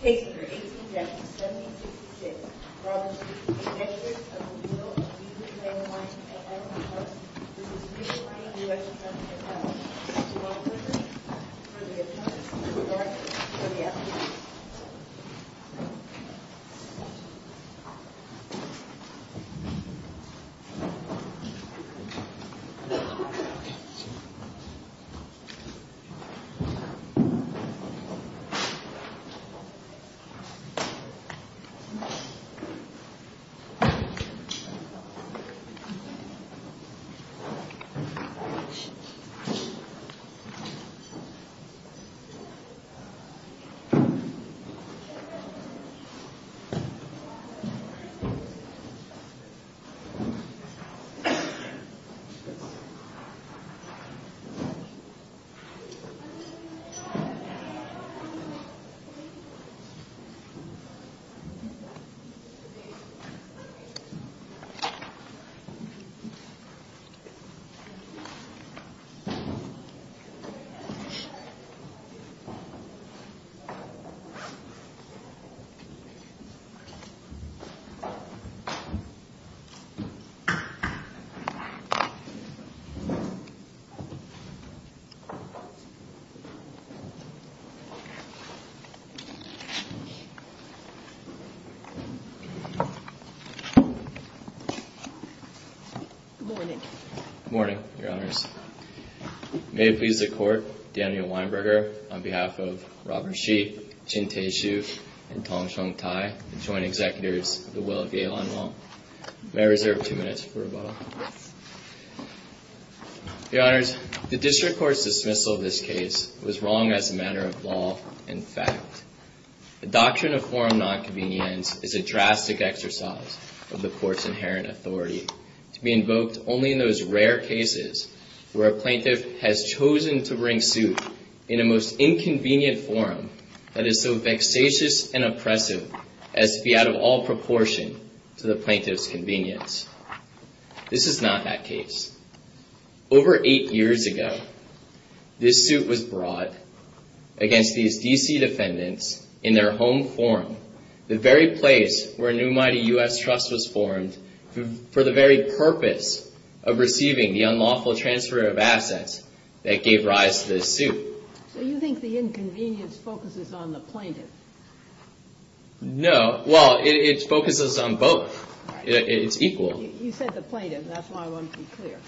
Page 18, Section 7066. Brought to you by the Executive Committee of the Bureau of the U.S. Trade and Mining at Arlington Trust, this is the New Mighty U.S. Trust. Do you want the paper? Do you want me to get the paper? Do you want it? Okay, I'll get it. Good morning. Good morning, Your Honors. May it please the Court, Daniel Weinberger, on behalf of Robert Sheep, Jin Te-shu, and Tong Sheng-tai, the Joint Executives of the Will of Ye Lan Wang. May I reserve two minutes for rebuttal? Yes. Your Honors, the District Court's dismissal of this case was wrong as a matter of law and fact. The doctrine of forum nonconvenience is a drastic exercise of the Court's inherent authority to be invoked only in those rare cases where a plaintiff has chosen to bring suit in a most inconvenient forum that is so vexatious and oppressive as to be out of all proportion to the plaintiff's convenience. This is not that case. Over eight years ago, this suit was brought against these D.C. defendants in their home forum, the very place where a new, mighty U.S. trust was formed for the very purpose of receiving the unlawful transfer of assets that gave rise to this suit. So you think the inconvenience focuses on the plaintiff? No. Well, it focuses on both. It's equal. You said the plaintiff. That's why I want to be clear.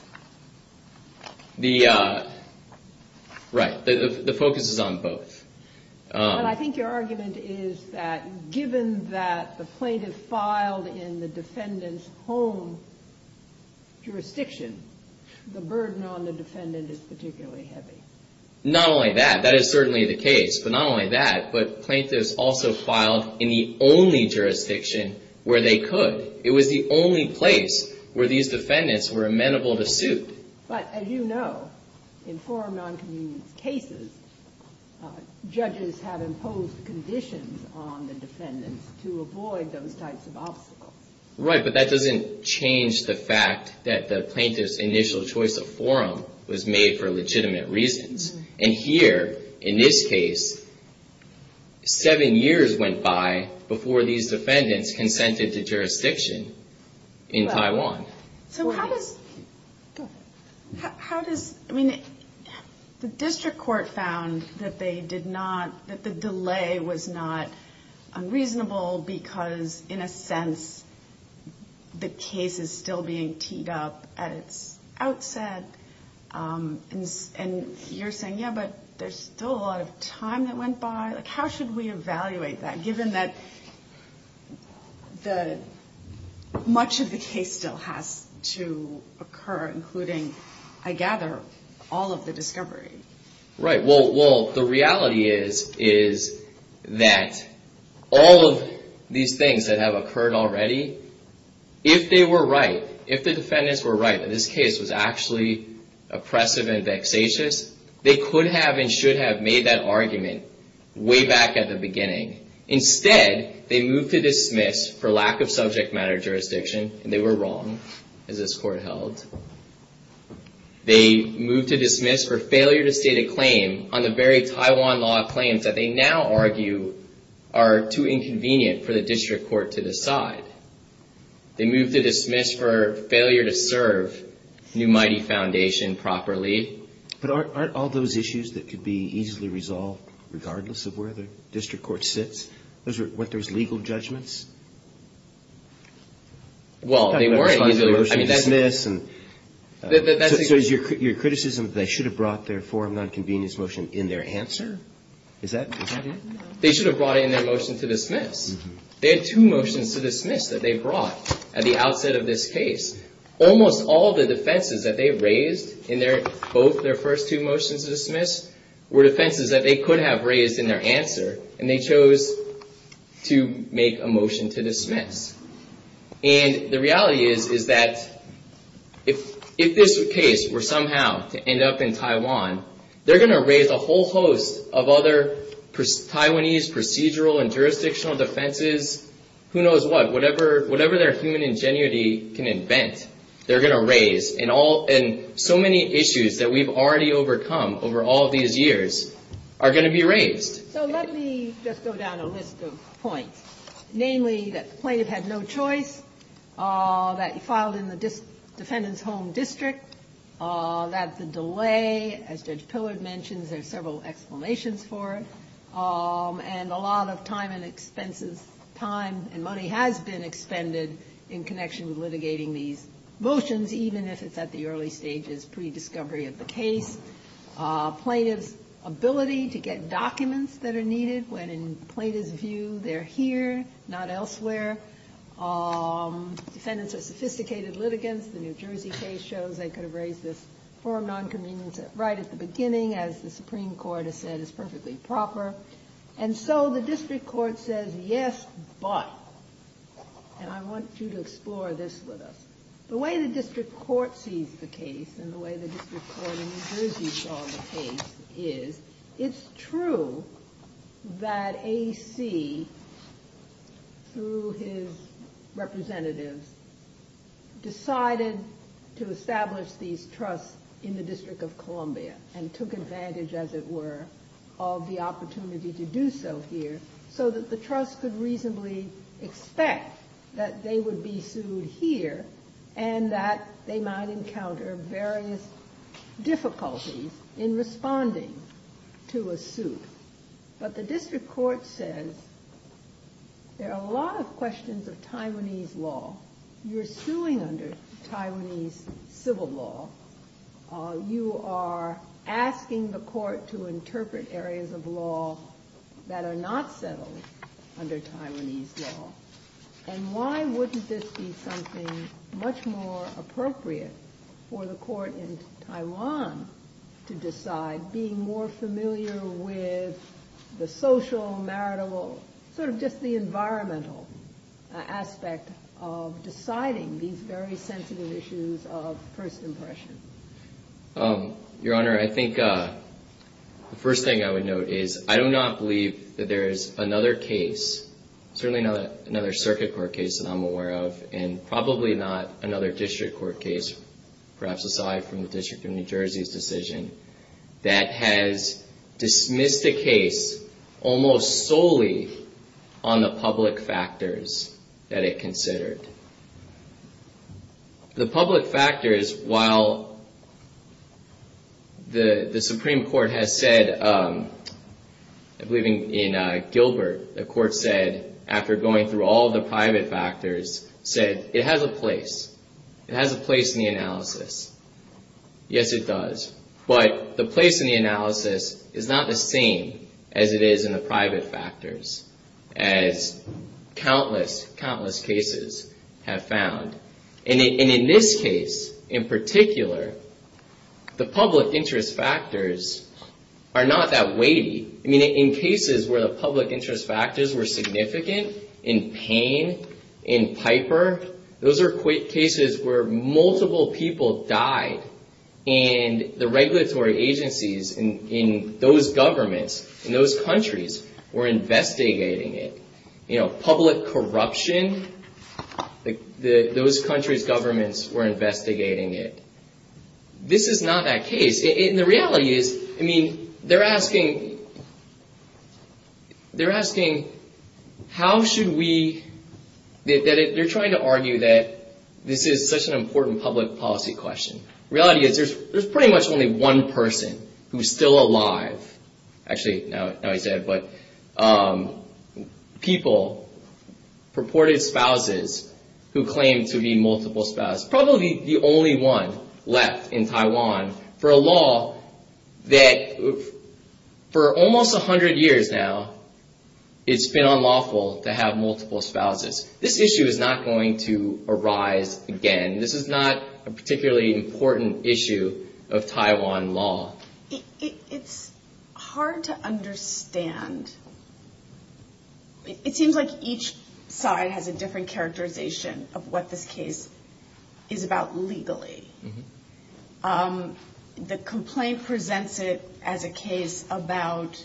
Right. The focus is on both. But I think your argument is that given that the plaintiff filed in the defendant's home jurisdiction, the burden on the defendant is particularly heavy. Not only that. That is certainly the case. But not only that, but plaintiffs also filed in the only jurisdiction where they could. It was the only place where these defendants were amenable to suit. But as you know, in forum noncommittee cases, judges have imposed conditions on the defendants to avoid those types of obstacles. Right, but that doesn't change the fact that the plaintiff's initial choice of forum was made for legitimate reasons. And here, in this case, seven years went by before these defendants consented to jurisdiction in Taiwan. So how does the district court found that the delay was not unreasonable because, in a sense, the case is still being teed up at its outset? And you're saying, yeah, but there's still a lot of time that went by. How should we evaluate that, given that much of the case still has to occur, including, I gather, all of the discovery? Right, well, the reality is that all of these things that have occurred already, if they were right, if the defendants were right, if this case was actually oppressive and vexatious, they could have and should have made that argument way back at the beginning. Instead, they moved to dismiss for lack of subject matter jurisdiction, and they were wrong, as this court held. They moved to dismiss for failure to state a claim on the very Taiwan law claims that they now argue are too inconvenient for the district court to decide. They moved to dismiss for failure to serve New Mighty Foundation properly. But aren't all those issues that could be easily resolved, regardless of where the district court sits, those are what those legal judgments? Well, they weren't. So is your criticism that they should have brought their forum nonconvenience motion in their answer? Is that it? They should have brought in their motion to dismiss. They had two motions to dismiss that they brought at the outset of this case. Almost all the defenses that they raised in both their first two motions to dismiss were defenses that they could have raised in their answer, and they chose to make a motion to dismiss. And the reality is, is that if this case were somehow to end up in Taiwan, they're going to raise a whole host of other Taiwanese procedural and jurisdictional defenses. Who knows what? Whatever their human ingenuity can invent, they're going to raise. And so many issues that we've already overcome over all these years are going to be raised. So let me just go down a list of points. Namely, that the plaintiff had no choice. That he filed in the defendant's home district. That the delay, as Judge Pillard mentions, there are several explanations for it. And a lot of time and expenses, time and money has been expended in connection with litigating these motions, even if it's at the early stages, pre-discovery of the case. Plaintiff's ability to get documents that are needed when, in plaintiff's view, they're here, not elsewhere. Defendants are sophisticated litigants. The New Jersey case shows they could have raised this form of non-convenience right at the beginning, as the Supreme Court has said is perfectly proper. And so the district court says, yes, but. And I want you to explore this with us. The way the district court sees the case and the way the district court in New Jersey saw the case is it's true that A.C., through his representatives, decided to establish these trusts in the District of Columbia and took advantage, as it were, of the opportunity to do so here. So that the trust could reasonably expect that they would be sued here and that they might encounter various difficulties in responding to a suit. But the district court says there are a lot of questions of Taiwanese law. You're suing under Taiwanese civil law. You are asking the court to interpret areas of law that are not settled under Taiwanese law. And why wouldn't this be something much more appropriate for the court in Taiwan to decide, being more familiar with the social, marital, sort of just the environmental aspect of deciding these very sensitive issues of first impression? Your Honor, I think the first thing I would note is I do not believe that there is another case, certainly not another circuit court case that I'm aware of, and probably not another district court case, perhaps aside from the District of New Jersey's decision, that has dismissed a case almost solely on the public factors that it considered. The public factors, while the Supreme Court has said, I believe in Gilbert, the court said, after going through all the private factors, said it has a place. It has a place in the analysis. Yes, it does. But the place in the analysis is not the same as it is in the private factors, as countless, countless cases have found. And in this case, in particular, the public interest factors are not that weighty. I mean, in cases where the public interest factors were significant, in Payne, in Piper, those are cases where multiple people died and the regulatory agencies in those governments, in those countries, were investigating it. You know, public corruption, those countries' governments were investigating it. This is not that case. And the reality is, I mean, they're asking, they're asking, how should we, they're trying to argue that this is such an important public policy question. The reality is, there's pretty much only one person who's still alive. Actually, now he's dead, but people, purported spouses who claim to be multiple spouses, that's probably the only one left in Taiwan for a law that, for almost 100 years now, it's been unlawful to have multiple spouses. This issue is not going to arise again. This is not a particularly important issue of Taiwan law. It's hard to understand. It seems like each side has a different characterization of what this case is about legally. The complaint presents it as a case about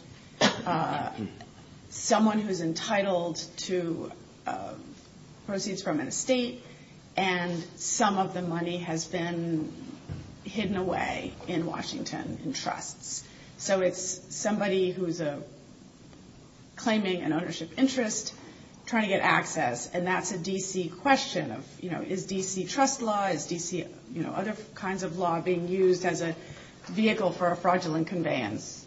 someone who's entitled to proceeds from an estate, and some of the money has been hidden away in Washington in trusts. So it's somebody who's claiming an ownership interest, trying to get access, and that's a D.C. question of, you know, is D.C. trust law, is D.C. other kinds of law being used as a vehicle for a fraudulent conveyance?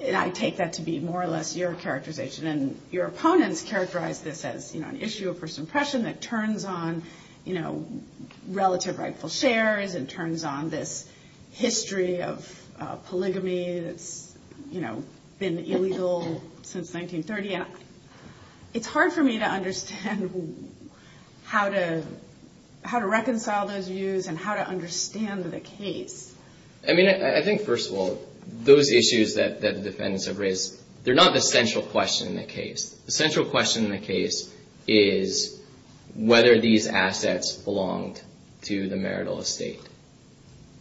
And I take that to be more or less your characterization, and your opponents characterize this as, you know, an issue of first impression that turns on, you know, relative rightful shares, and turns on this history of polygamy that's, you know, been illegal since 1930. It's hard for me to understand how to reconcile those views and how to understand the case. I mean, I think, first of all, those issues that the defendants have raised, they're not the central question in the case. The central question in the case is whether these assets belonged to the marital estate.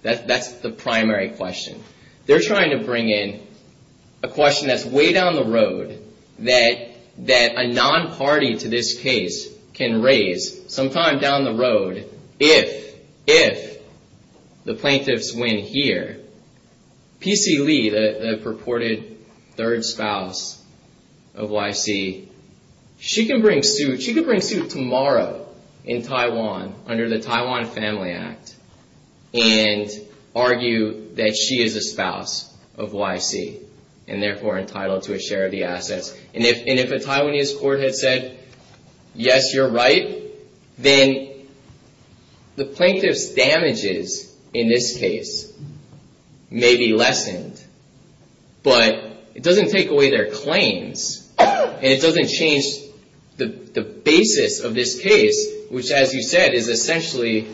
That's the primary question. They're trying to bring in a question that's way down the road, that a non-party to this case can raise sometime down the road if the plaintiffs win here. P.C. Lee, the purported third spouse of Y.C., she can bring suit tomorrow in Taiwan, under the Taiwan Family Act, and argue that she is a spouse of Y.C., and therefore entitled to a share of the assets. And if a Taiwanese court had said, yes, you're right, then the plaintiff's damages in this case may be lessened, but it doesn't take away their claims, and it doesn't change the basis of this case, which, as you said, is essentially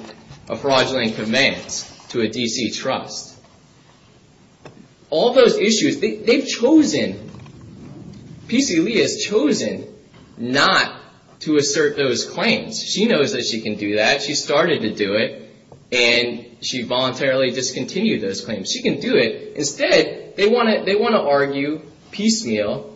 a fraudulent command to a D.C. trust. All those issues, they've chosen, P.C. Lee has chosen not to assert those claims. She knows that she can do that. She started to do it, and she voluntarily discontinued those claims. She can do it. Instead, they want to argue piecemeal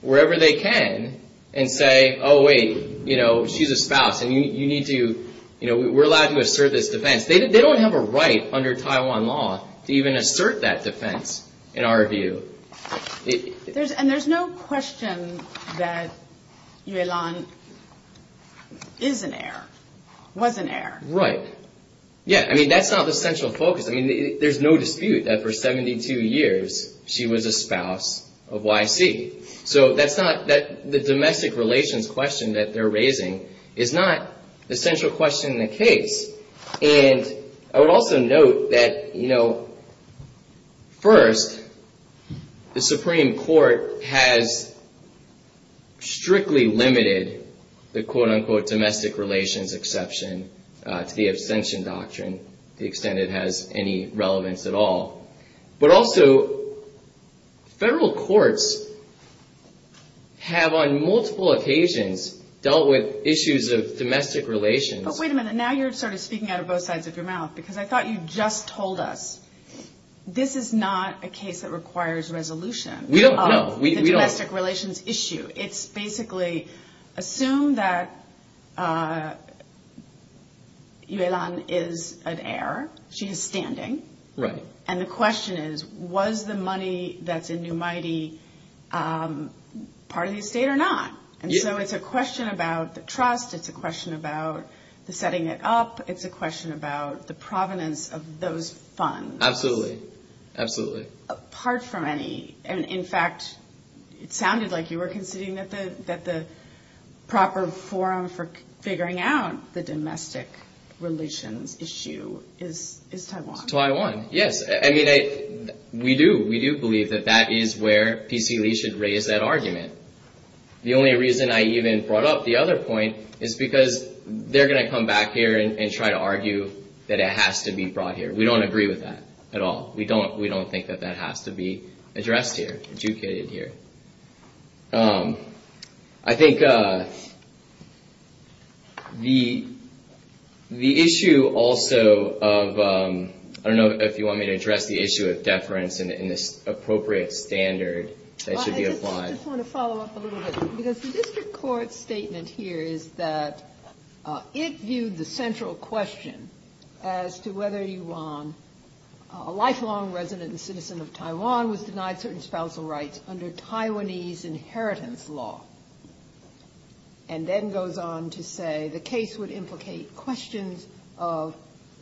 wherever they can, and say, oh, wait, you know, she's a spouse, and you need to, you know, we're allowed to assert this defense. They don't have a right under Taiwan law to even assert that defense, in our view. And there's no question that Yue Lan is an heir, was an heir. Right. Yeah, I mean, that's not the central focus. I mean, there's no dispute that for 72 years, she was a spouse of Y.C. So that's not, the domestic relations question that they're raising is not the central question in the case. And I would also note that, you know, first, the Supreme Court has strictly limited the, quote, unquote, domestic relations exception to the abstention doctrine to the extent it has any relevance at all. But also, federal courts have on multiple occasions dealt with issues of domestic relations. But wait a minute. Now you're sort of speaking out of both sides of your mouth, because I thought you just told us, this is not a case that requires resolution. We don't know. We don't. Of the domestic relations issue. It's basically, assume that Yue Lan is an heir. She is standing. Right. And the question is, was the money that's in New Mighty part of the estate or not? And so it's a question about the trust. It's a question about the setting it up. It's a question about the provenance of those funds. Absolutely. Absolutely. Apart from any. And in fact, it sounded like you were considering that the proper forum for figuring out the domestic relations issue is Taiwan. Taiwan. Yes. I mean, we do. We do believe that that is where PC Lee should raise that argument. The only reason I even brought up the other point is because they're going to come back here and try to argue that it has to be brought here. We don't agree with that at all. We don't. We don't think that that has to be addressed here. I think the the issue also of I don't know if you want me to address the issue of deference in this appropriate standard. They should be applied. I just want to follow up a little bit because the district court statement here is that it viewed the central question as to whether you want a lifelong resident and citizen of Taiwan was denied certain spousal rights under Taiwanese inheritance law. And then goes on to say the case would implicate questions of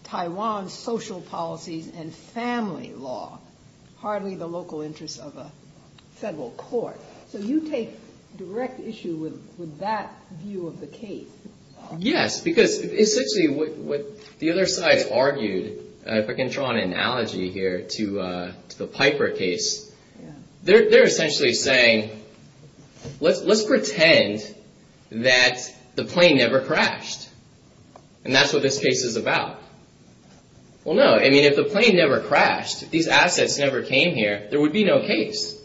Taiwan's social policies and family law. Hardly the local interests of a federal court. So you take direct issue with that view of the case. Yes, because essentially what the other sides argued, if I can draw an analogy here to the Piper case, they're essentially saying, let's let's pretend that the plane never crashed and that's what this case is about. Well, no, I mean, if the plane never crashed, these assets never came here, there would be no case. It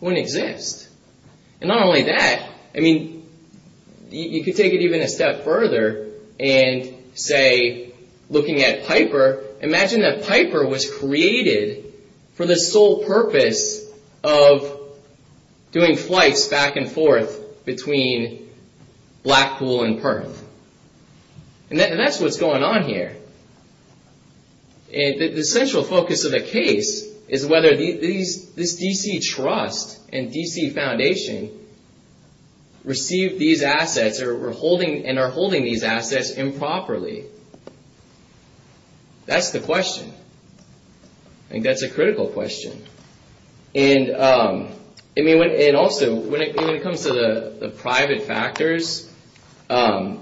wouldn't exist. And not only that, I mean, you could take it even a step further and say, looking at Piper, imagine that Piper was created for the sole purpose of doing flights back and forth between Blackpool and Perth. And that's what's going on here. And the central focus of the case is whether these this D.C. trust and D.C. foundation received these assets or were holding and are holding these assets improperly. That's the question. I think that's a critical question. And I mean, and also when it comes to the private factors, I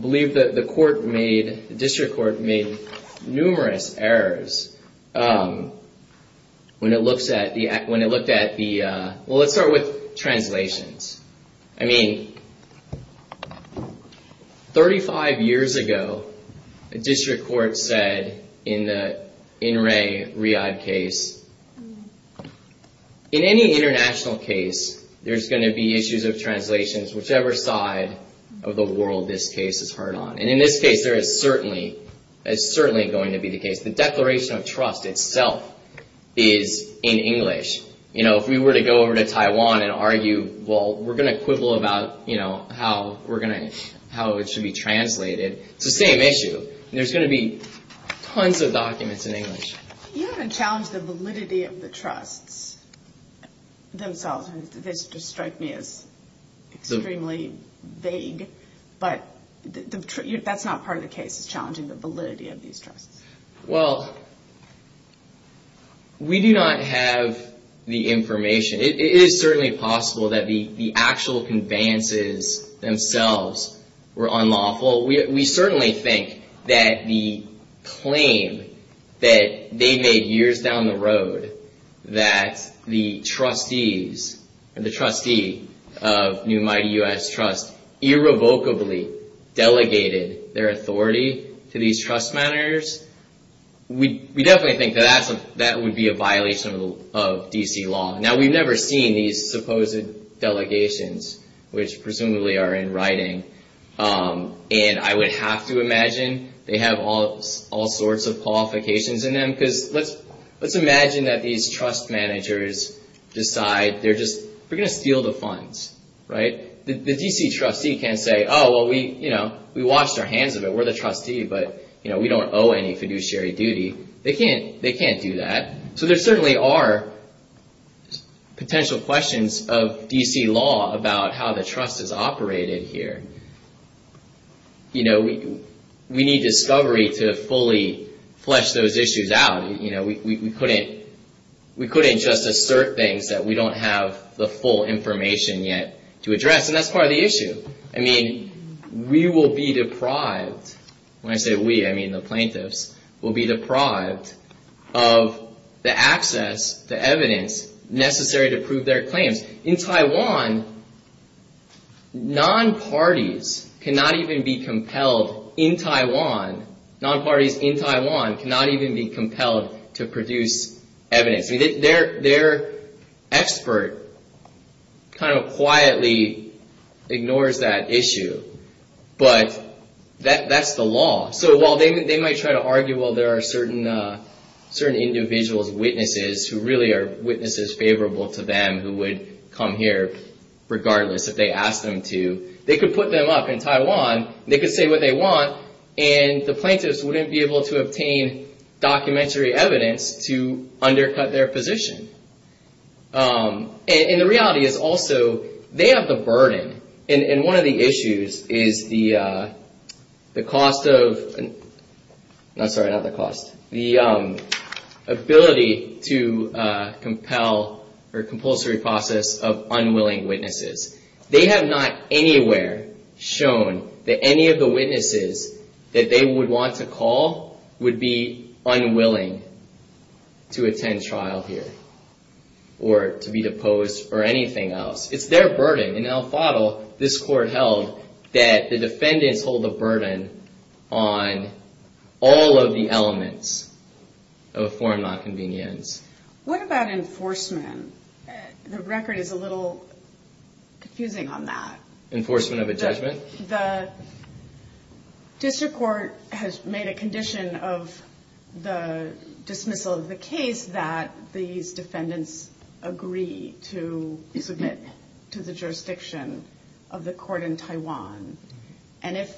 believe that the court made the district court made numerous errors. When it looks at the when it looked at the well, let's start with translations. I mean, 35 years ago, a district court said in the in Ray Reid case in any international case, there's going to be issues of translations, whichever side of the world this case is hard on. And in this case, there is certainly is certainly going to be the case. The Declaration of Trust itself is in English. You know, if we were to go over to Taiwan and argue, well, we're going to quibble about, you know, how we're going to how it should be translated. It's the same issue. There's going to be tons of documents in English. You haven't challenged the validity of the trusts themselves. And this just strike me as extremely vague. But that's not part of the case is challenging the validity of these trusts. Well, we do not have the information. It is certainly possible that the actual conveyances themselves were unlawful. We certainly think that the claim that they made years down the road, that the trustees and the trustee of New Mighty US Trust irrevocably delegated their authority to these trust matters. We definitely think that that would be a violation of D.C. law. Now, we've never seen these supposed delegations, which presumably are in writing. And I would have to imagine they have all sorts of qualifications in them. Because let's let's imagine that these trust managers decide they're just going to steal the funds. Right. The D.C. trustee can say, oh, well, we, you know, we washed our hands of it. We're the trustee, but, you know, we don't owe any fiduciary duty. They can't they can't do that. So there certainly are potential questions of D.C. law about how the trust is operated here. You know, we need discovery to fully flesh those issues out. You know, we couldn't we couldn't just assert things that we don't have the full information yet to address. And that's part of the issue. I mean, we will be deprived when I say we, I mean, the plaintiffs will be deprived of the access to evidence necessary to prove their claims in Taiwan. Non-parties cannot even be compelled in Taiwan. Non-parties in Taiwan cannot even be compelled to produce evidence. Their expert kind of quietly ignores that issue. But that's the law. So while they might try to argue, well, there are certain certain individuals, witnesses who really are witnesses favorable to them who would come here regardless if they asked them to. They could put them up in Taiwan. They could say what they want. And the plaintiffs wouldn't be able to obtain documentary evidence to undercut their position. And the reality is also they have the burden. And one of the issues is the the cost of not sorry, not the cost. The ability to compel or compulsory process of unwilling witnesses. They have not anywhere shown that any of the witnesses that they would want to call would be unwilling to attend trial here or to be deposed or anything else. It's their burden. In El Fado, this court held that the defendants hold the burden on all of the elements of a foreign nonconvenience. What about enforcement? The record is a little confusing on that. Enforcement of a judgment. The district court has made a condition of the dismissal of the case that these defendants agree to submit to the jurisdiction of the court in Taiwan. And if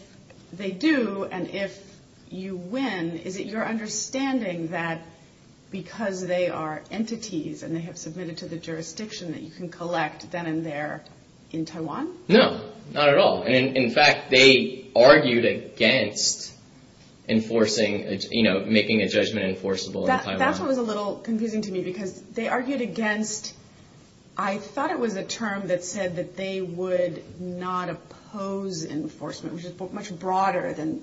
they do and if you win, is it your understanding that because they are entities and they have submitted to the jurisdiction that you can collect then and there in Taiwan? No, not at all. And in fact, they argued against enforcing, you know, making a judgment enforceable. That was a little confusing to me because they argued against I thought it was a term that said that they would not oppose enforcement, which is much broader than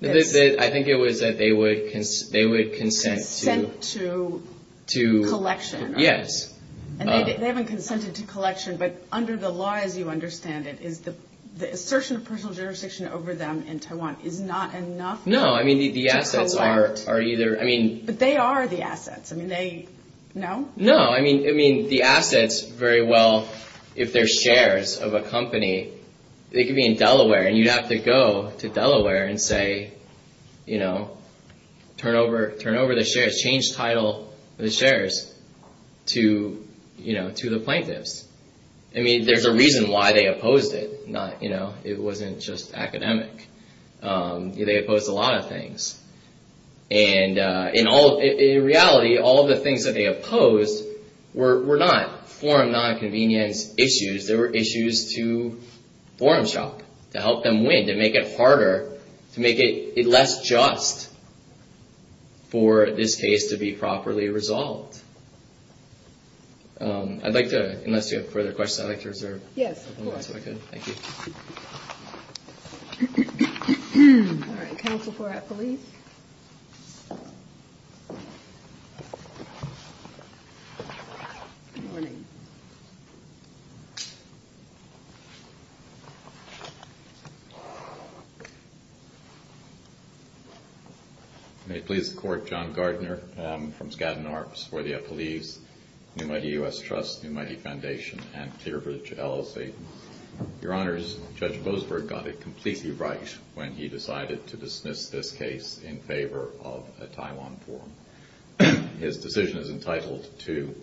this. I think it was that they would they would consent to to collection. Yes. And they haven't consented to collection. But under the law, as you understand it, is the assertion of personal jurisdiction over them in Taiwan is not enough. No, I mean, the assets are are either. I mean, they are the assets. I mean, they know. No, I mean, I mean, the assets very well. If their shares of a company, they could be in Delaware and you'd have to go to Delaware and say, you know, turn over, turn over the shares, change title, the shares to, you know, to the plaintiffs. I mean, there's a reason why they opposed it. Not, you know, it wasn't just academic. They opposed a lot of things. And in all reality, all of the things that they opposed were not forum nonconvenience issues. There were issues to forum shop to help them win, to make it harder, to make it less just. For this case to be properly resolved. I'd like to unless you have further questions, I'd like to reserve. Yes. Good. Thank you. All right. Council for a police. Good morning. May it please the court. John Gardner from Scadden Arps for the police. New Mighty US Trust, New Mighty Foundation and Clear Bridge LLC. Your honors, Judge Boasberg got it completely right when he decided to dismiss this case in favor of a Taiwan form. His decision is entitled to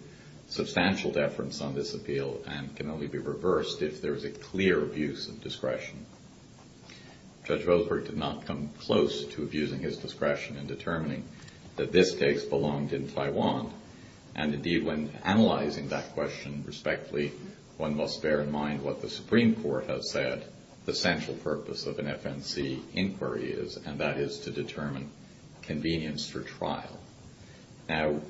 substantial deference on this appeal and can only be reversed if there is a clear abuse of discretion. Judge Boasberg did not come close to abusing his discretion in determining that this case belonged in Taiwan. And indeed, when analyzing that question respectfully, one must bear in mind what the Supreme Court has said. The central purpose of an FNC inquiry is, and that is to determine convenience for trial. Now,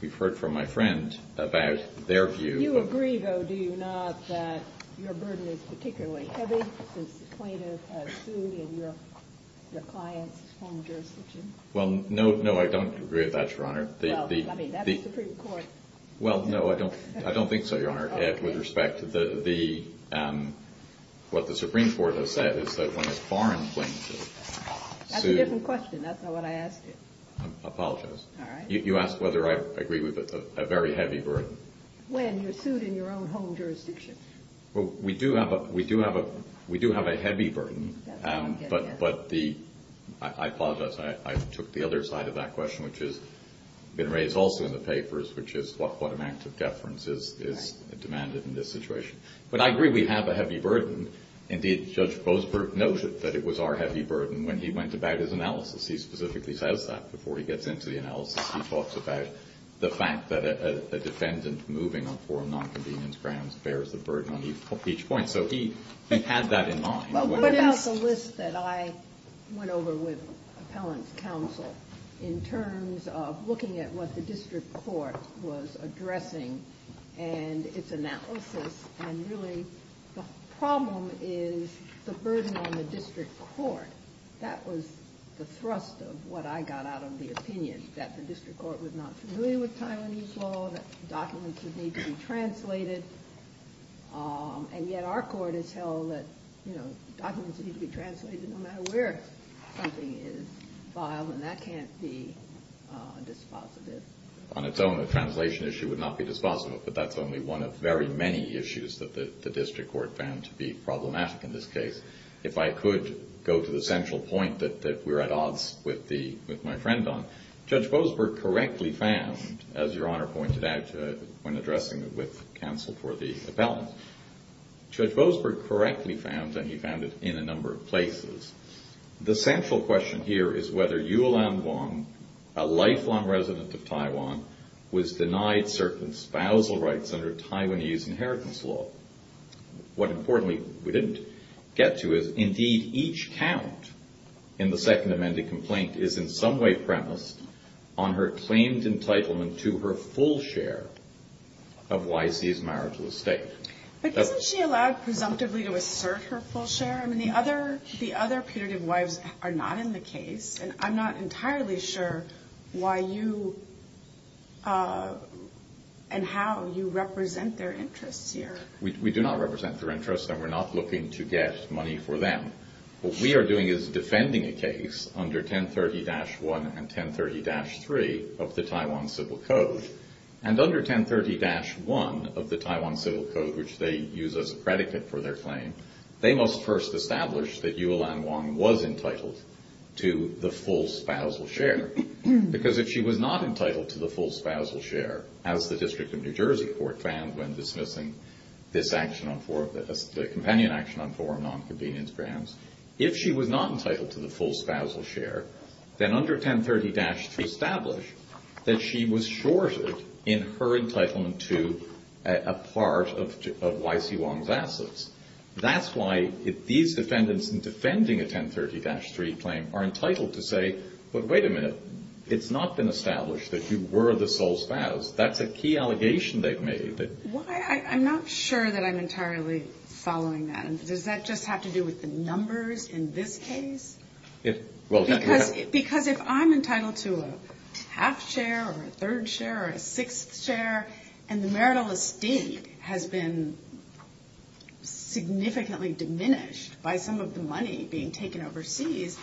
we've heard from my friend about their view. You agree, though, do you not, that your burden is particularly heavy since plaintiff Sui and your clients form jurisdiction? Well, no. No, I don't agree with that, Your Honor. Well, I mean, that's the Supreme Court. Well, no, I don't think so, Your Honor. With respect, what the Supreme Court has said is that when a foreign plaintiff sued... That's a different question. That's not what I asked you. I apologize. All right. You asked whether I agree with a very heavy burden. When you're sued in your own home jurisdiction. Well, we do have a heavy burden, but I apologize. I took the other side of that question, which has been raised also in the papers, which is what amount of deference is demanded in this situation. But I agree we have a heavy burden. Indeed, Judge Boasberg noted that it was our heavy burden when he went about his analysis. He specifically says that before he gets into the analysis. He talks about the fact that a defendant moving on foreign nonconvenience grounds bears the burden on each point. So he had that in mind. What about the list that I went over with appellant's counsel in terms of looking at what the district court was addressing and its analysis? And really, the problem is the burden on the district court. But that was the thrust of what I got out of the opinion, that the district court was not familiar with Taiwanese law, that documents would need to be translated. And yet our court has held that, you know, documents need to be translated no matter where something is filed, and that can't be dispositive. On its own, a translation issue would not be dispositive, but that's only one of very many issues that the district court found to be problematic in this case. If I could go to the central point that we're at odds with my friend on. Judge Boasberg correctly found, as Your Honor pointed out when addressing it with counsel for the appellant. Judge Boasberg correctly found, and he found it in a number of places. The central question here is whether Yu Lan Wang, a lifelong resident of Taiwan, was denied certain spousal rights under Taiwanese inheritance law. What importantly we didn't get to is, indeed, each count in the second amended complaint is in some way premised on her claimed entitlement to her full share of YC's marital estate. But isn't she allowed presumptively to assert her full share? I mean, the other putative wives are not in the case, and I'm not entirely sure why you and how you represent their interests here. We do not represent their interests, and we're not looking to get money for them. What we are doing is defending a case under 1030-1 and 1030-3 of the Taiwan Civil Code. And under 1030-1 of the Taiwan Civil Code, which they use as a predicate for their claim, they must first establish that Yu Lan Wang was entitled to the full spousal share. Because if she was not entitled to the full spousal share, as the District of New Jersey Court found when dismissing the companion action on four non-convenience grounds, if she was not entitled to the full spousal share, then under 1030-3 establish that she was shorted in her entitlement to a part of YC Wang's assets. That's why these defendants in defending a 1030-3 claim are entitled to say, but wait a minute, it's not been established that you were the sole spouse. That's a key allegation they've made. I'm not sure that I'm entirely following that. Does that just have to do with the numbers in this case? Because if I'm entitled to a half share, or a third share, or a sixth share, and the marital estate has been significantly diminished by some of the money being taken overseas,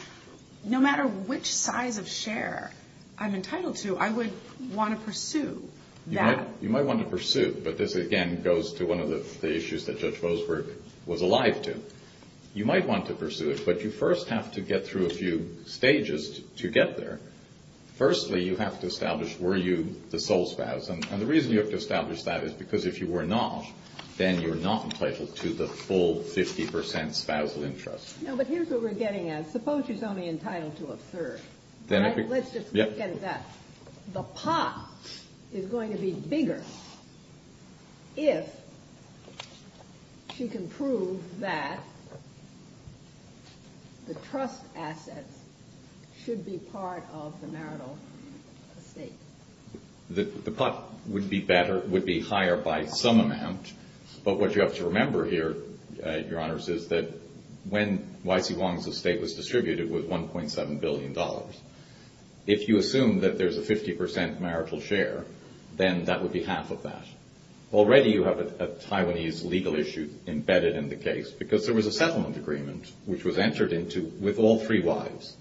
no matter which size of share I'm entitled to, I would want to pursue that. You might want to pursue, but this again goes to one of the issues that Judge Bosworth was alive to. You might want to pursue it, but you first have to get through a few stages to get there. Firstly, you have to establish, were you the sole spouse? And the reason you have to establish that is because if you were not, then you're not entitled to the full 50 percent spousal interest. No, but here's what we're getting at. Suppose she's only entitled to a third. Let's just look at that. The pot is going to be bigger if she can prove that the trust assets should be part of the marital estate. The pot would be higher by some amount, but what you have to remember here, Your Honors, is that when Y.C. Wong's estate was distributed, it was $1.7 billion. If you assume that there's a 50 percent marital share, then that would be half of that. Already you have a Taiwanese legal issue embedded in the case because there was a settlement agreement which was entered into with all three wives.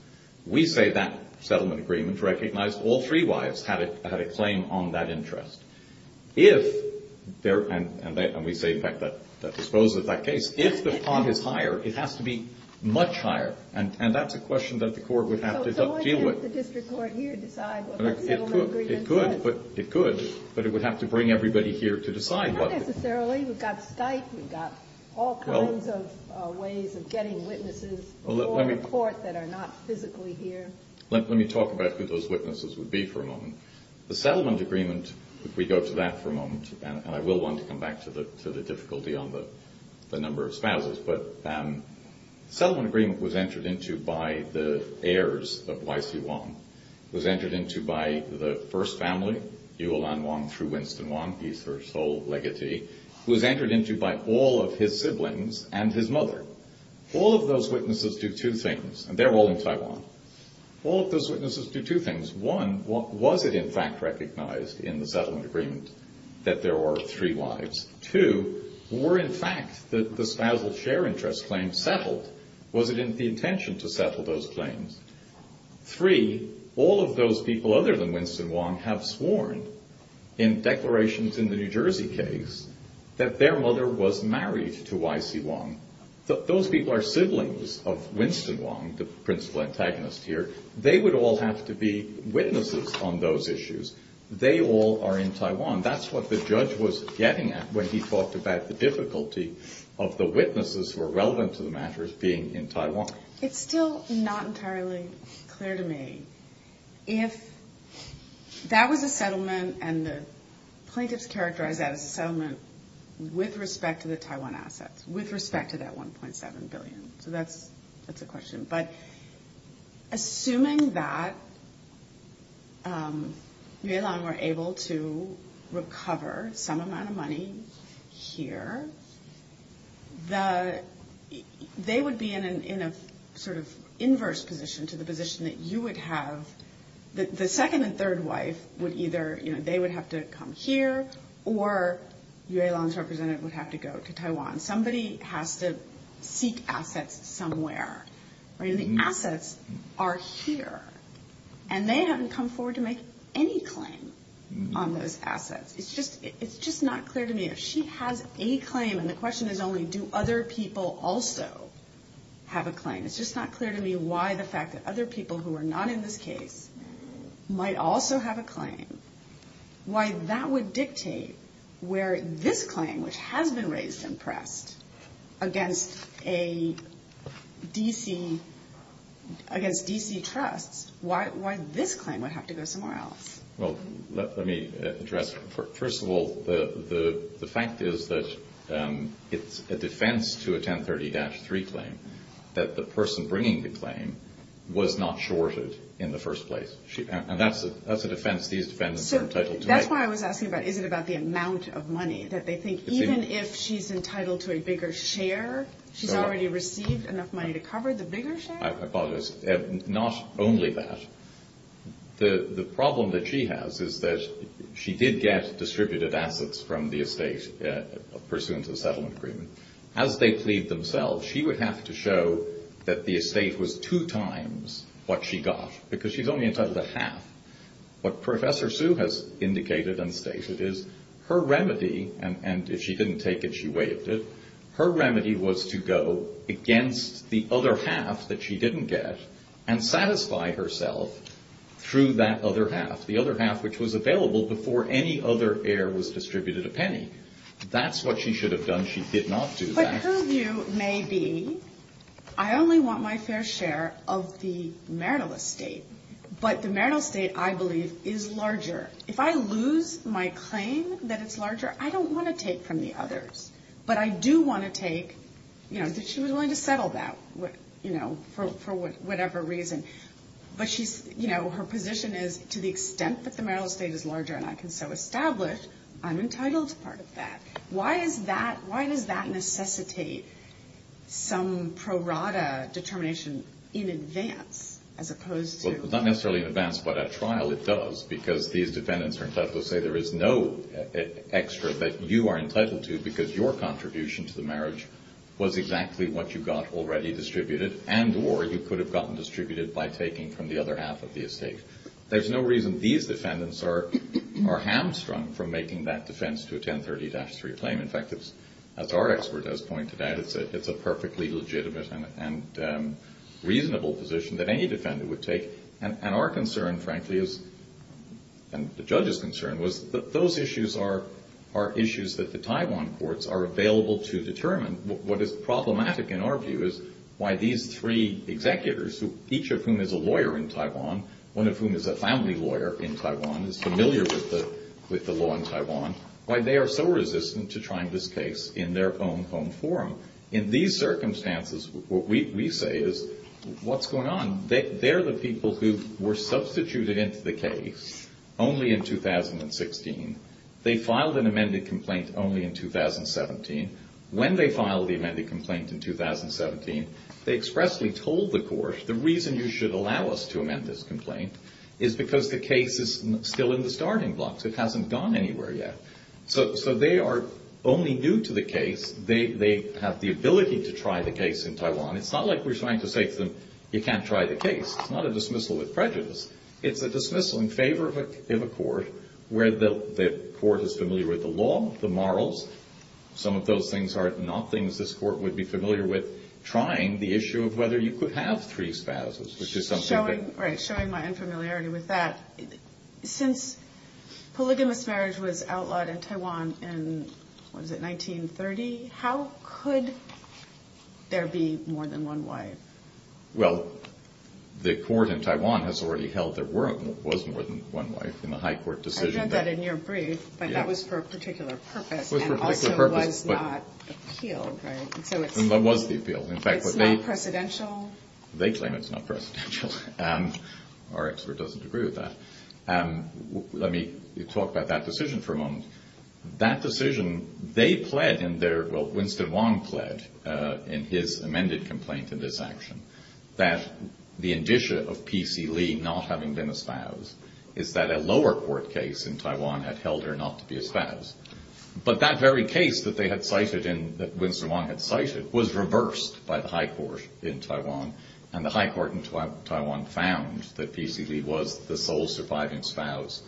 We say that settlement agreement recognized all three wives had a claim on that interest. And we say, in fact, that disposes of that case. If the pot is higher, it has to be much higher, and that's a question that the court would have to deal with. So why can't the district court here decide what that settlement agreement says? It could, but it would have to bring everybody here to decide. Not necessarily. We've got Skype. We've got all kinds of ways of getting witnesses for the court that are not physically here. Let me talk about who those witnesses would be for a moment. The settlement agreement, if we go to that for a moment, and I will want to come back to the difficulty on the number of spouses, but the settlement agreement was entered into by the heirs of Y.C. Wong. It was entered into by the first family, Yuolan Wong through Winston Wong. He's her sole legatee. It was entered into by all of his siblings and his mother. All of those witnesses do two things, and they're all in Taiwan. All of those witnesses do two things. One, was it in fact recognized in the settlement agreement that there were three wives? Two, were in fact the spousal share interest claims settled? Was it the intention to settle those claims? Three, all of those people other than Winston Wong have sworn in declarations in the New Jersey case that their mother was married to Y.C. Wong. Those people are siblings of Winston Wong, the principal antagonist here. They would all have to be witnesses on those issues. They all are in Taiwan. That's what the judge was getting at when he talked about the difficulty of the witnesses who are relevant to the matter being in Taiwan. It's still not entirely clear to me if that was a settlement and the plaintiffs characterized that as a settlement with respect to the Taiwan assets, with respect to that $1.7 billion. So that's a question. But assuming that Yue Lan were able to recover some amount of money here, they would be in a sort of inverse position to the position that you would have. The second and third wife would either, you know, they would have to come here, or Yue Lan's representative would have to go to Taiwan. Somebody has to seek assets somewhere. The assets are here, and they haven't come forward to make any claim on those assets. It's just not clear to me if she has a claim, and the question is only do other people also have a claim. It's just not clear to me why the fact that other people who are not in this case might also have a claim, why that would dictate where this claim, which has been raised and pressed against a D.C. against D.C. trusts, why this claim would have to go somewhere else. Well, let me address, first of all, the fact is that it's a defense to a 1030-3 claim that the person bringing the claim was not shorted in the first place. And that's a defense these defendants are entitled to make. So that's why I was asking about is it about the amount of money, that they think even if she's entitled to a bigger share, she's already received enough money to cover the bigger share? I apologize. Not only that. The problem that she has is that she did get distributed assets from the estate pursuant to the settlement agreement. As they plead themselves, she would have to show that the estate was two times what she got, because she's only entitled to half. What Professor Sue has indicated and stated is her remedy, and if she didn't take it, she waived it, her remedy was to go against the other half that she didn't get and satisfy herself through that other half, the other half which was available before any other heir was distributed a penny. That's what she should have done. She did not do that. But her view may be, I only want my fair share of the marital estate, but the marital estate, I believe, is larger. If I lose my claim that it's larger, I don't want to take from the others. But I do want to take, you know, that she was willing to settle that, you know, for whatever reason. But she's, you know, her position is, to the extent that the marital estate is larger and I can so establish, I'm entitled to part of that. Why is that, why does that necessitate some prorata determination in advance as opposed to... Well, not necessarily in advance, but at trial it does, because these defendants are entitled to say there is no extra that you are entitled to because your contribution to the marriage was exactly what you got already distributed and or you could have gotten distributed by taking from the other half of the estate. There's no reason these defendants are hamstrung from making that defense to a 1030-3 claim. In fact, as our expert has pointed out, it's a perfectly legitimate and reasonable position that any defendant would take. And our concern, frankly, and the judge's concern, was that those issues are issues that the Taiwan courts are available to determine. What is problematic in our view is why these three executors, each of whom is a lawyer in Taiwan, one of whom is a family lawyer in Taiwan, is familiar with the law in Taiwan, why they are so resistant to trying this case in their own home forum. In these circumstances, what we say is, what's going on? They're the people who were substituted into the case only in 2016. They filed an amended complaint only in 2017. When they filed the amended complaint in 2017, they expressly told the court, the reason you should allow us to amend this complaint is because the case is still in the starting blocks. It hasn't gone anywhere yet. So they are only new to the case. They have the ability to try the case in Taiwan. It's not like we're trying to say to them, you can't try the case. It's not a dismissal with prejudice. It's a dismissal in favor of a court where the court is familiar with the law, the morals. Some of those things are not things this court would be familiar with, trying the issue of whether you could have three spouses, which is something that... Right, showing my unfamiliarity with that. Since polygamous marriage was outlawed in Taiwan in, what is it, 1930, how could there be more than one wife? Well, the court in Taiwan has already held there was more than one wife in the high court decision. I read that in your brief, but that was for a particular purpose and also was not appealed. It was the appeal. They claim it's not precedential. Our expert doesn't agree with that. Let me talk about that decision for a moment. That decision, they pled in their, well, Winston Wong pled in his amended complaint in this action that the indicia of P.C. Lee not having been a spouse is that a lower court case in Taiwan had held her not to be a spouse. But that very case that Winston Wong had cited was reversed by the high court in Taiwan. And the high court in Taiwan found that P.C. Lee was the sole surviving spouse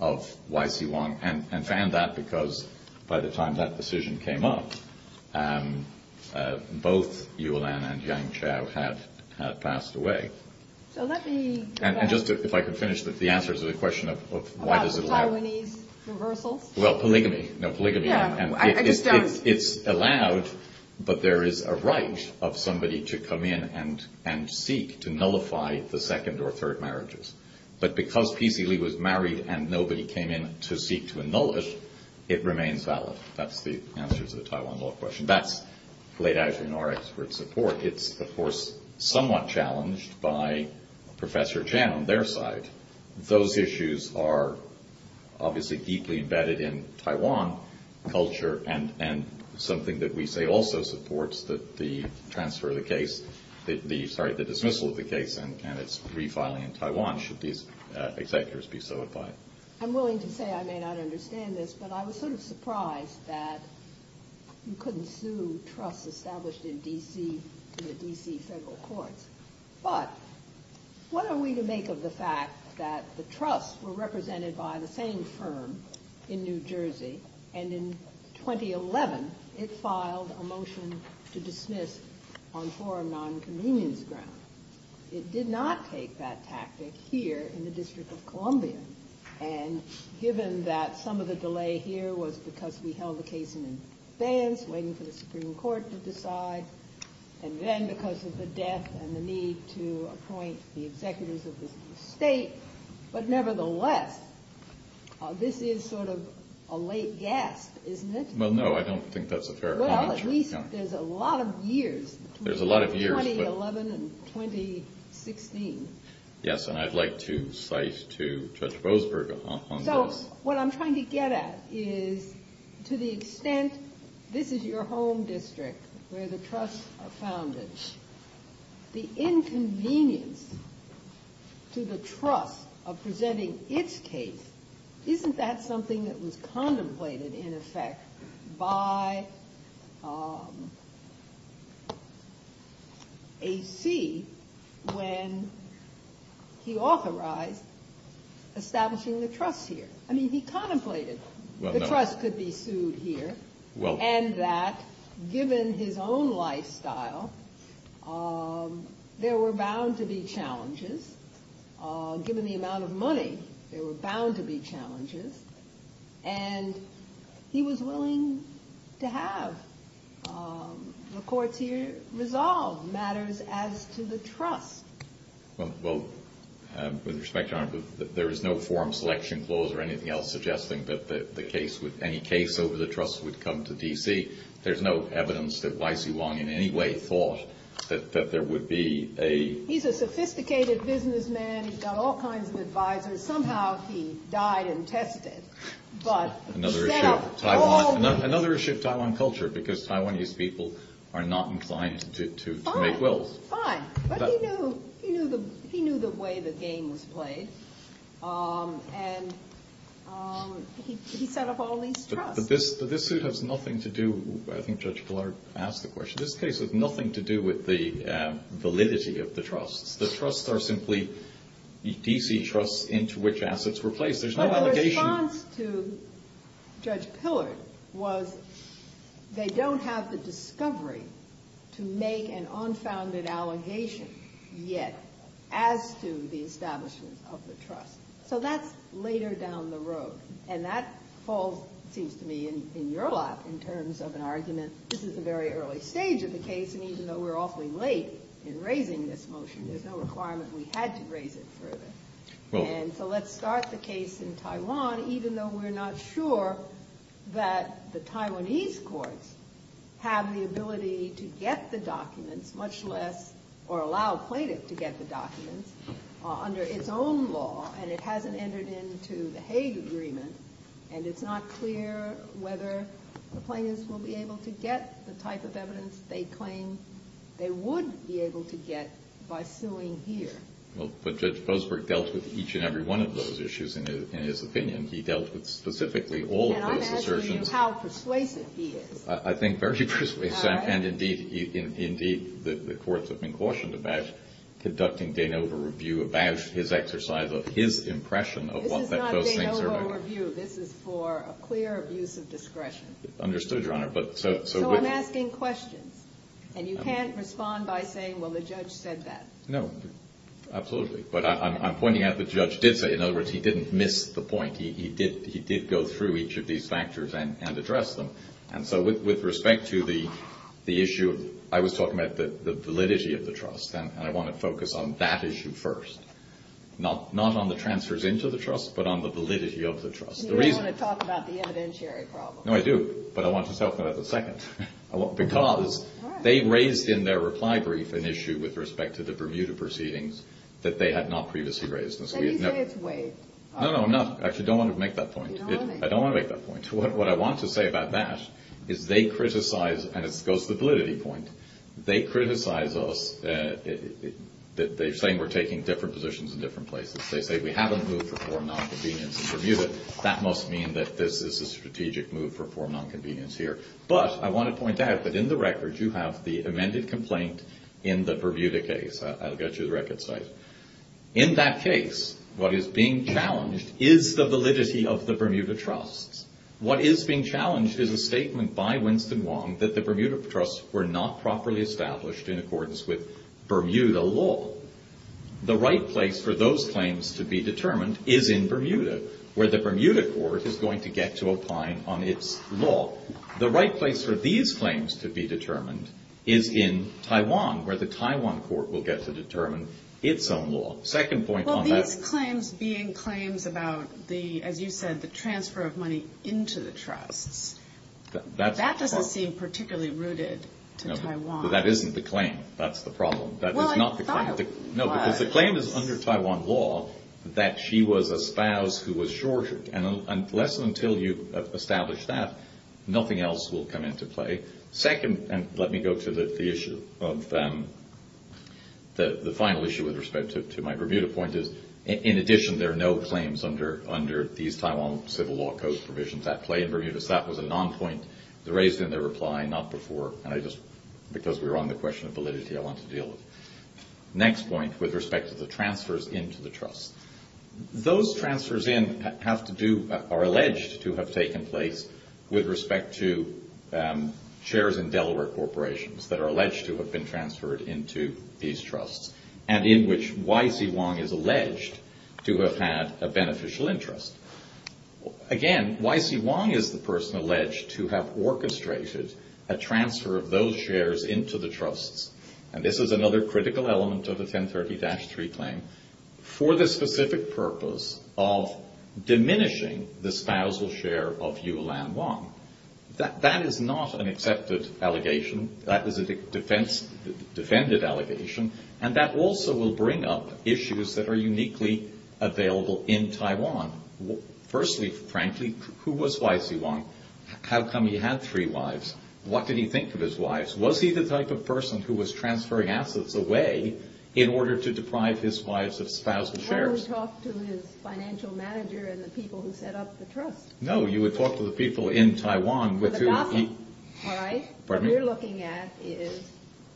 of Y.C. Wong and found that because by the time that decision came up, both Yu Lan and Yang Chao had passed away. If I could finish, the answer to the question of why does it... Taiwanese reversals? Well, polygamy. It's allowed, but there is a right of somebody to come in and seek to nullify the second or third marriages. But because P.C. Lee was married and nobody came in to seek to annul it, it remains valid. That's the answer to the Taiwan law question. That's laid out in our expert support. It's, of course, somewhat challenged by Professor Chan on their side. Those issues are obviously deeply embedded in Taiwan culture and something that we say also supports the transfer of the case, sorry, the dismissal of the case and its refiling in Taiwan should these executors be so advised. I'm willing to say I may not understand this, but I was sort of surprised that you couldn't sue trusts established in D.C. in the D.C. federal courts. But what are we to make of the fact that the trusts were represented by the same firm in New Jersey, and in 2011, it filed a motion to dismiss on forum nonconvenience ground? It did not take that tactic here in the District of Columbia. And given that some of the delay here was because we held the case in advance, waiting for the Supreme Court to decide, and then because of the death and the need to appoint the executives of the state. But nevertheless, this is sort of a late gasp, isn't it? Well, no, I don't think that's a fair comment. Well, at least there's a lot of years, 2011 and 2016. Yes, and I'd like to cite to Judge Boasberg on this. So what I'm trying to get at is to the extent this is your home district where the trusts are founded, the inconvenience to the trust of presenting its case, isn't that something that was contemplated in effect by A.C. when he authorized establishing the trust here? I mean, he contemplated the trust could be sued here, and that given his own lifestyle, there were bound to be challenges. Given the amount of money, there were bound to be challenges. And he was willing to have the courts here resolve matters as to the trust. Well, with respect, Your Honor, there is no forum selection clause or anything else suggesting that any case over the trust would come to D.C. There's no evidence that Y.C. Wong in any way thought that there would be a... He's a sophisticated businessman. He's got all kinds of advisors. Somehow he died and tested. Another issue of Taiwan culture, because Taiwanese people are not inclined to make wills. Fine. But he knew the way the game was played. And he set up all these trusts. But this suit has nothing to do... I think Judge Pillard asked the question. This case has nothing to do with the validity of the trusts. The trusts are simply D.C. trusts into which assets were placed. There's no allegation... But the response to Judge Pillard was they don't have the discovery to make an unfounded allegation yet as to the establishment of the trust. So that's later down the road. And that falls, it seems to me, in your lap in terms of an argument. This is a very early stage of the case. And even though we're awfully late in raising this motion, there's no requirement we had to raise it further. And so let's start the case in Taiwan, even though we're not sure that the Taiwanese courts have the ability to get the documents, much less allow a plaintiff to get the documents, under its own law. And it hasn't entered into the Hague Agreement. And it's not clear whether the plaintiffs will be able to get the type of evidence they claim they would be able to get by suing here. But Judge Boasberg dealt with each and every one of those issues in his opinion. He dealt with specifically all of those assertions. And I'm asking you how persuasive he is. I think very persuasive. And indeed, the courts have been cautioned about conducting de novo review about his exercise of his impression of what that post-Saint-Sermon... This is not de novo review. This is for a clear abuse of discretion. Understood, Your Honor. So I'm asking questions. And you can't respond by saying, well, the judge said that. No, absolutely. But I'm pointing out the judge did say it. In other words, he didn't miss the point. He did go through each of these factors and address them. And so with respect to the issue, I was talking about the validity of the trust. And I want to focus on that issue first. Not on the transfers into the trust, but on the validity of the trust. And you don't want to talk about the evidentiary problem. No, I do. But I want to talk about it a second. Because they raised in their reply brief an issue with respect to the Bermuda proceedings that they had not previously raised. No, no. Actually, I don't want to make that point. I don't want to make that point. What I want to say about that is they criticize, and this goes to the validity point, they criticize us. They're saying we're taking different positions in different places. They say we haven't moved for form non-convenience in Bermuda. That must mean that this is a strategic move for form non-convenience here. But I want to point out that in the record, you have the amended complaint in the Bermuda case. I'll get you the record site. In that case, what is being challenged is the validity of the Bermuda trusts. What is being challenged is a statement by Winston Wong that the Bermuda trusts were not properly established in accordance with Bermuda law. The right place for those claims to be determined is in Bermuda, where the Bermuda court is going to get to opine on its law. The right place for these claims to be determined is in Taiwan, where the Taiwan court will get to determine its own law. Well, these claims being claims about the, as you said, the transfer of money into the trusts, that doesn't seem particularly rooted to Taiwan. That isn't the claim. That's the problem. No, because the claim is under Taiwan law that she was a spouse who was shorted. And unless and until you establish that, nothing else will come into play. Second, and let me go to the issue of the final issue with respect to my Bermuda point is, in addition, there are no claims under these Taiwan civil law code provisions that play in Bermuda. So that was a non-point that was raised in the reply, not before. And I just, because we were on the question of validity, I want to deal with it. Next point, with respect to the transfers into the trusts. Those transfers in have to do, are alleged to have taken place with respect to chairs in Delaware corporations that are alleged to have been transferred into these trusts. And in which Y.C. Wong is alleged to have had a beneficial interest. Again, Y.C. Wong is the person alleged to have orchestrated a transfer of those shares into the trusts. And this is another critical element of the 1030-3 claim. For the specific purpose of diminishing the spousal share of Yu Lan Wong. That is not an accepted allegation. That is a defended allegation. And that also will bring up issues that are uniquely available in Taiwan. Firstly, frankly, who was Y.C. Wong? How come he had three wives? What did he think of his wives? Was he the type of person who was transferring assets away in order to deprive his wives of spousal shares? No, you would talk to the people in Taiwan. What we're looking at is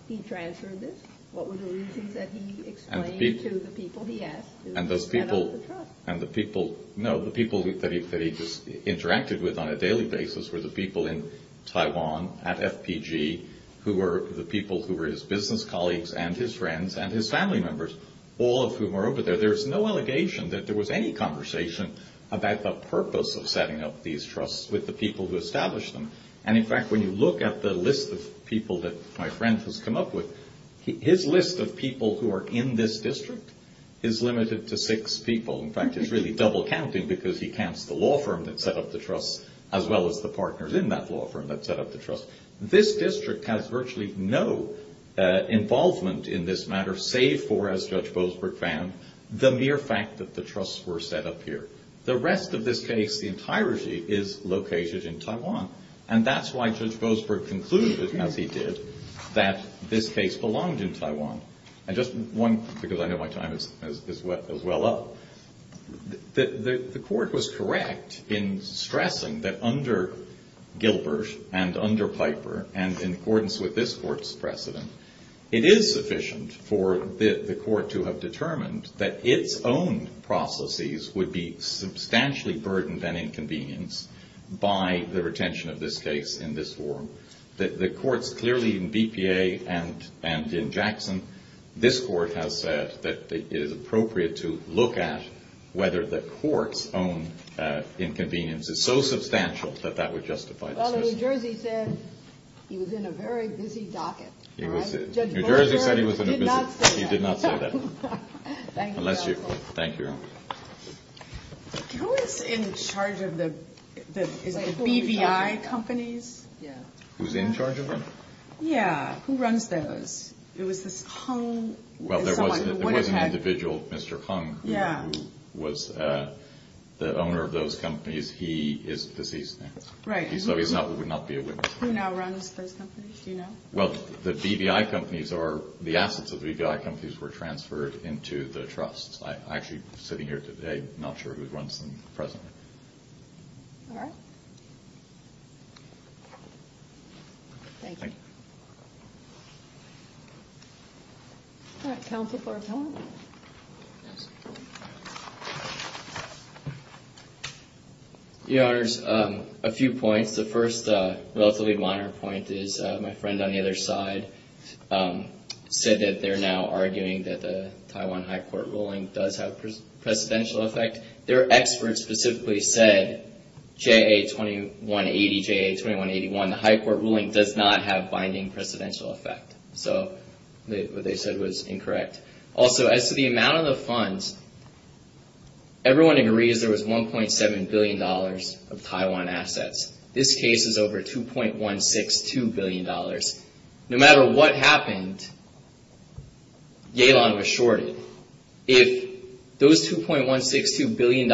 he transferred this. What were the reasons that he explained to the people he asked to set up the trust? No, the people that he interacted with on a daily basis were the people in Taiwan at FPG who were the people who were his business colleagues and his friends and his family members. All of whom were over there. So there's no allegation that there was any conversation about the purpose of setting up these trusts with the people who established them. And in fact, when you look at the list of people that my friend has come up with, his list of people who are in this district is limited to six people. In fact, it's really double counting because he counts the law firm that set up the trust as well as the partners in that law firm that set up the trust. This district has virtually no involvement in this matter, save for, as Judge Boasberg found, the mere fact that the trusts were set up here. The rest of this case, the entirety, is located in Taiwan. And that's why Judge Boasberg concluded, as he did, that this case belonged in Taiwan. And just one, because I know my time is well up. The court was correct in stressing that under Gilbert and under Piper, and in accordance with this court's precedent, it is sufficient for the court to have determined that its own processes would be substantially burdened and inconvenienced by the retention of this case in this forum. The courts clearly in BPA and in Jackson, this court has said that it is appropriate to look at whether the court's own inconvenience is so substantial that that would justify this decision. Well, New Jersey said he was in a very busy docket. Judge Boasberg did not say that. Who is in charge of the BVI companies? Who's in charge of them? Well, there was an individual, Mr. Hung, who was the owner of those companies. He is deceased now. Who now runs those companies? Well, the assets of the BVI companies were transferred into the trust. I'm actually sitting here today, I'm not sure who runs them presently. All right. Thank you. All right, Counsel for Appellant. Your Honors, a few points. The first relatively minor point is my friend on the other side said that they're now arguing that the Taiwan High Court ruling does have precedential effect. Their experts specifically said JA2180, JA2181, the High Court ruling does not have binding precedential effect. So what they said was incorrect. Also, as to the amount of the funds, everyone agrees there was $1.7 billion of Taiwan assets. This case is over $2.162 billion. No matter what happened, Yalon was shorted. If those $2.162 billion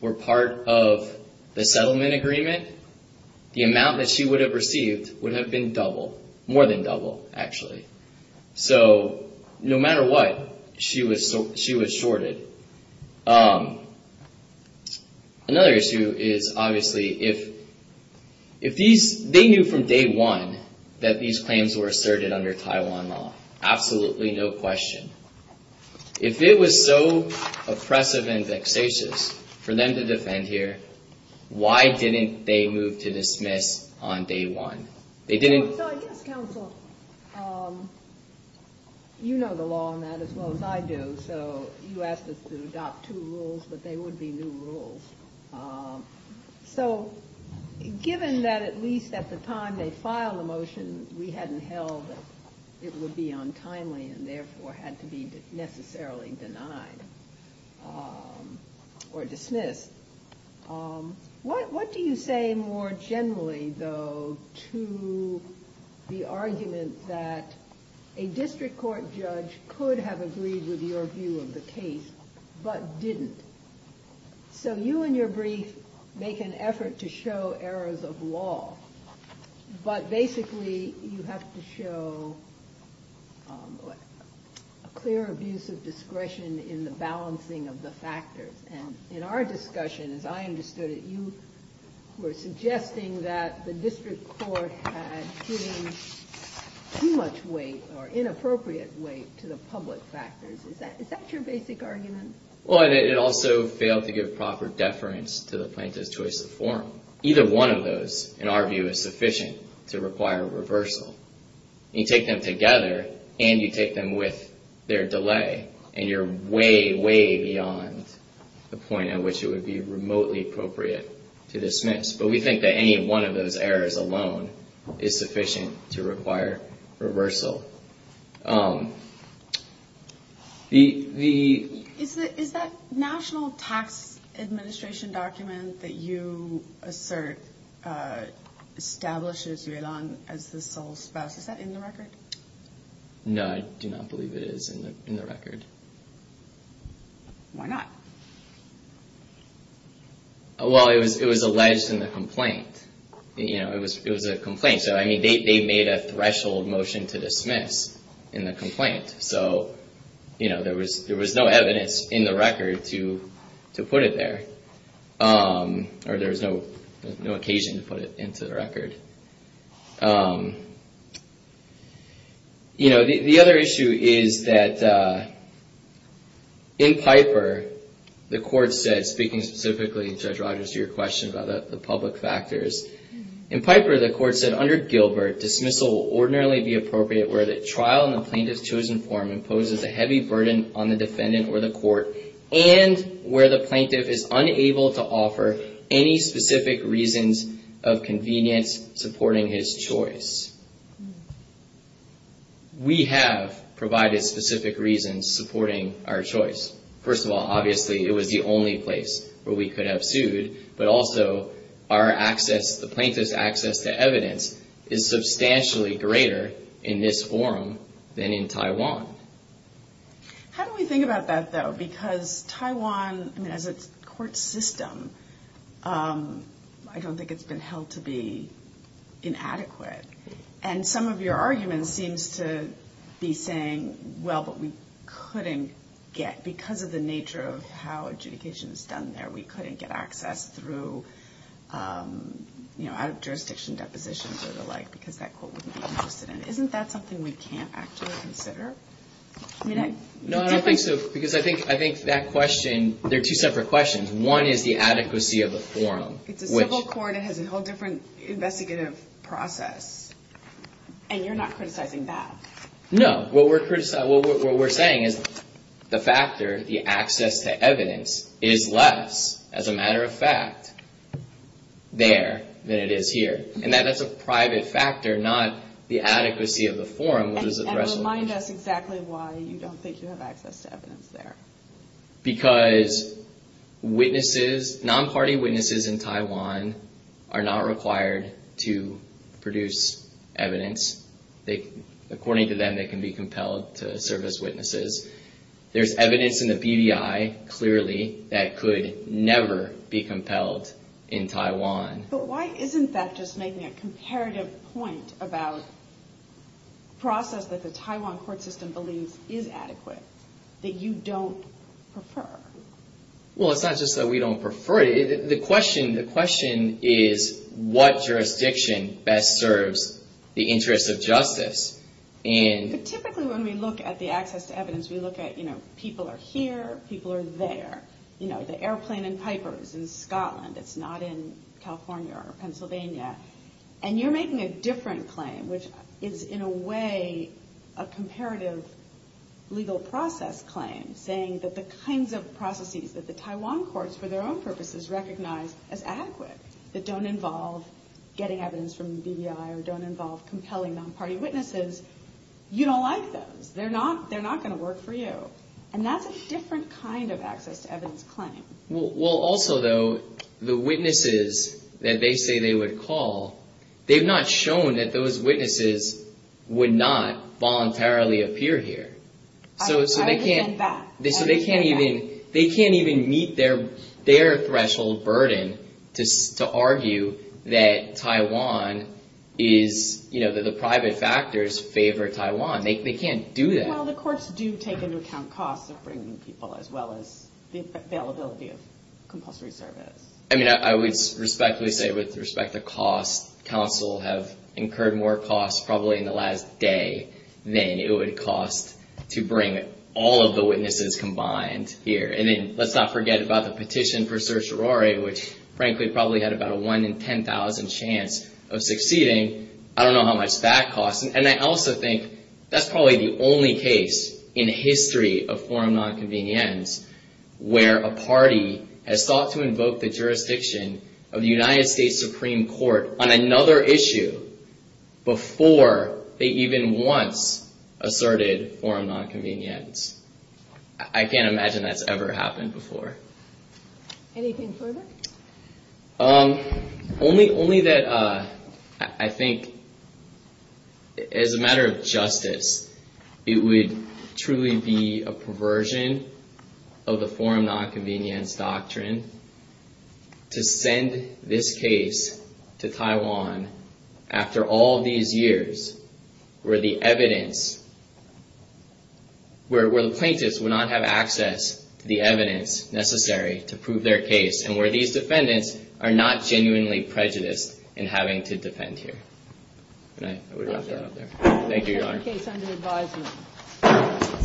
were part of the settlement agreement, the amount that she would have received would have been double, more than double, actually. So no matter what, she was shorted. Another issue is, obviously, if they knew from day one that these claims were asserted under Taiwan law, absolutely no question. If it was so oppressive and vexatious for them to defend here, why didn't they move to dismiss on day one? So I guess, counsel, you know the law on that as well as I do, so you asked us to adopt two rules, but they would be new rules. So given that at least at the time they filed the motion, we hadn't held that it would be untimely and therefore had to be necessarily denied or dismissed, what do you say more generally, though, to the argument that a district court judge could have agreed with your view of the case but didn't? So you in your brief make an effort to show errors of law, but basically you have to show a clear abuse of power. And I think that's a good question. As I understood it, you were suggesting that the district court had given too much weight or inappropriate weight to the public factors. Is that your basic argument? Well, it also failed to give proper deference to the plaintiff's choice of form. Either one of those, in our view, is sufficient to require reversal. You take them together and you take them with their delay and you're way, way beyond the point at which it would be remotely appropriate to dismiss. But we think that any one of those errors alone is sufficient to require reversal. Is that national tax administration document that you assert establishes Yulan as the sole spouse, is that in the record? No, I do not believe it is in the record. Why not? Well, it was alleged in the complaint. It was a complaint, so they made a threshold motion to dismiss in the complaint. So there was no evidence in the record to put it there, or there was no occasion to put it into the record. The other issue is that in Piper, the court said, speaking specifically, Judge Rogers, to your question about the public factors. In Piper, the court said, under Gilbert, dismissal will ordinarily be appropriate where the trial in the plaintiff's chosen form imposes a heavy burden on the defendant or the court, and where the plaintiff is supporting his choice. We have provided specific reasons supporting our choice. First of all, obviously, it was the only place where we could have sued, but also our access, the plaintiff's access to evidence is substantially greater in this forum than in Taiwan. How do we think about that, though? Because Taiwan, as a court system, I don't think it's been held to be inadequate. And some of your argument seems to be saying, well, but we couldn't get, because of the nature of how adjudication is done there, we couldn't get access through, you know, out of jurisdiction depositions or the like, because that court wouldn't be interested in it. Isn't that something we can't actually consider? No, I don't think so, because I think that question, there are two separate questions. One is the adequacy of the forum. It's a civil court, it has a whole different investigative process, and you're not criticizing that. No. What we're saying is the factor, the access to evidence, is less, as a matter of fact, there than it is here. And that's a private factor, not the adequacy of the forum. And remind us exactly why you don't think you have access to evidence there. Because non-party witnesses in Taiwan are not required to produce evidence. According to them, they can be compelled to serve as witnesses. There's evidence in the BDI, clearly, that could never be compelled in Taiwan. But why isn't that just making a comparative point about the process that the Taiwan court system believes is adequate, that you don't prefer? Well, it's not just that we don't prefer it. The question is what jurisdiction best serves the interests of justice. Typically when we look at the access to evidence, we look at people are here, people are there. The airplane in Piper is in Scotland, it's not in California or Pennsylvania. And you're making a different claim, which is in a way a comparative legal process claim, saying that the kinds of processes that the Taiwan courts, for their own purposes, recognize as adequate, that don't involve getting evidence from the BDI or don't involve compelling non-party witnesses, you don't like those. They're not going to work for you. And that's a different kind of access to evidence claim. Well, also, though, the witnesses that they say they would call, they've not shown that those witnesses would not voluntarily appear here. I understand that. So they can't even meet their threshold burden to argue that Taiwan is, you know, that the private factors favor Taiwan. They can't do that. Well, the courts do take into account costs of bringing people as well as the availability of compulsory service. I mean, I would respectfully say with respect to cost, counsel have incurred more costs probably in the last day than it would cost to bring all of the witnesses combined here. And then let's not forget about the petition for certiorari, which frankly probably had about a 1 in 10,000 chance of succeeding. I don't know how much that costs. And I also think that's probably the only case in history of forum nonconvenience where a party has sought to invoke the jurisdiction of the United States Supreme Court on another issue before they even once asserted forum nonconvenience. I can't imagine that's ever happened before. Only that I think as a matter of justice, it would truly be a perversion of the forum nonconvenience doctrine to send this case to Taiwan after all these years where the evidence, where the plaintiffs would not have access to the evidence necessary to prove their case and where these defendants are not genuinely prejudiced in having to defend here. Thank you, Your Honor.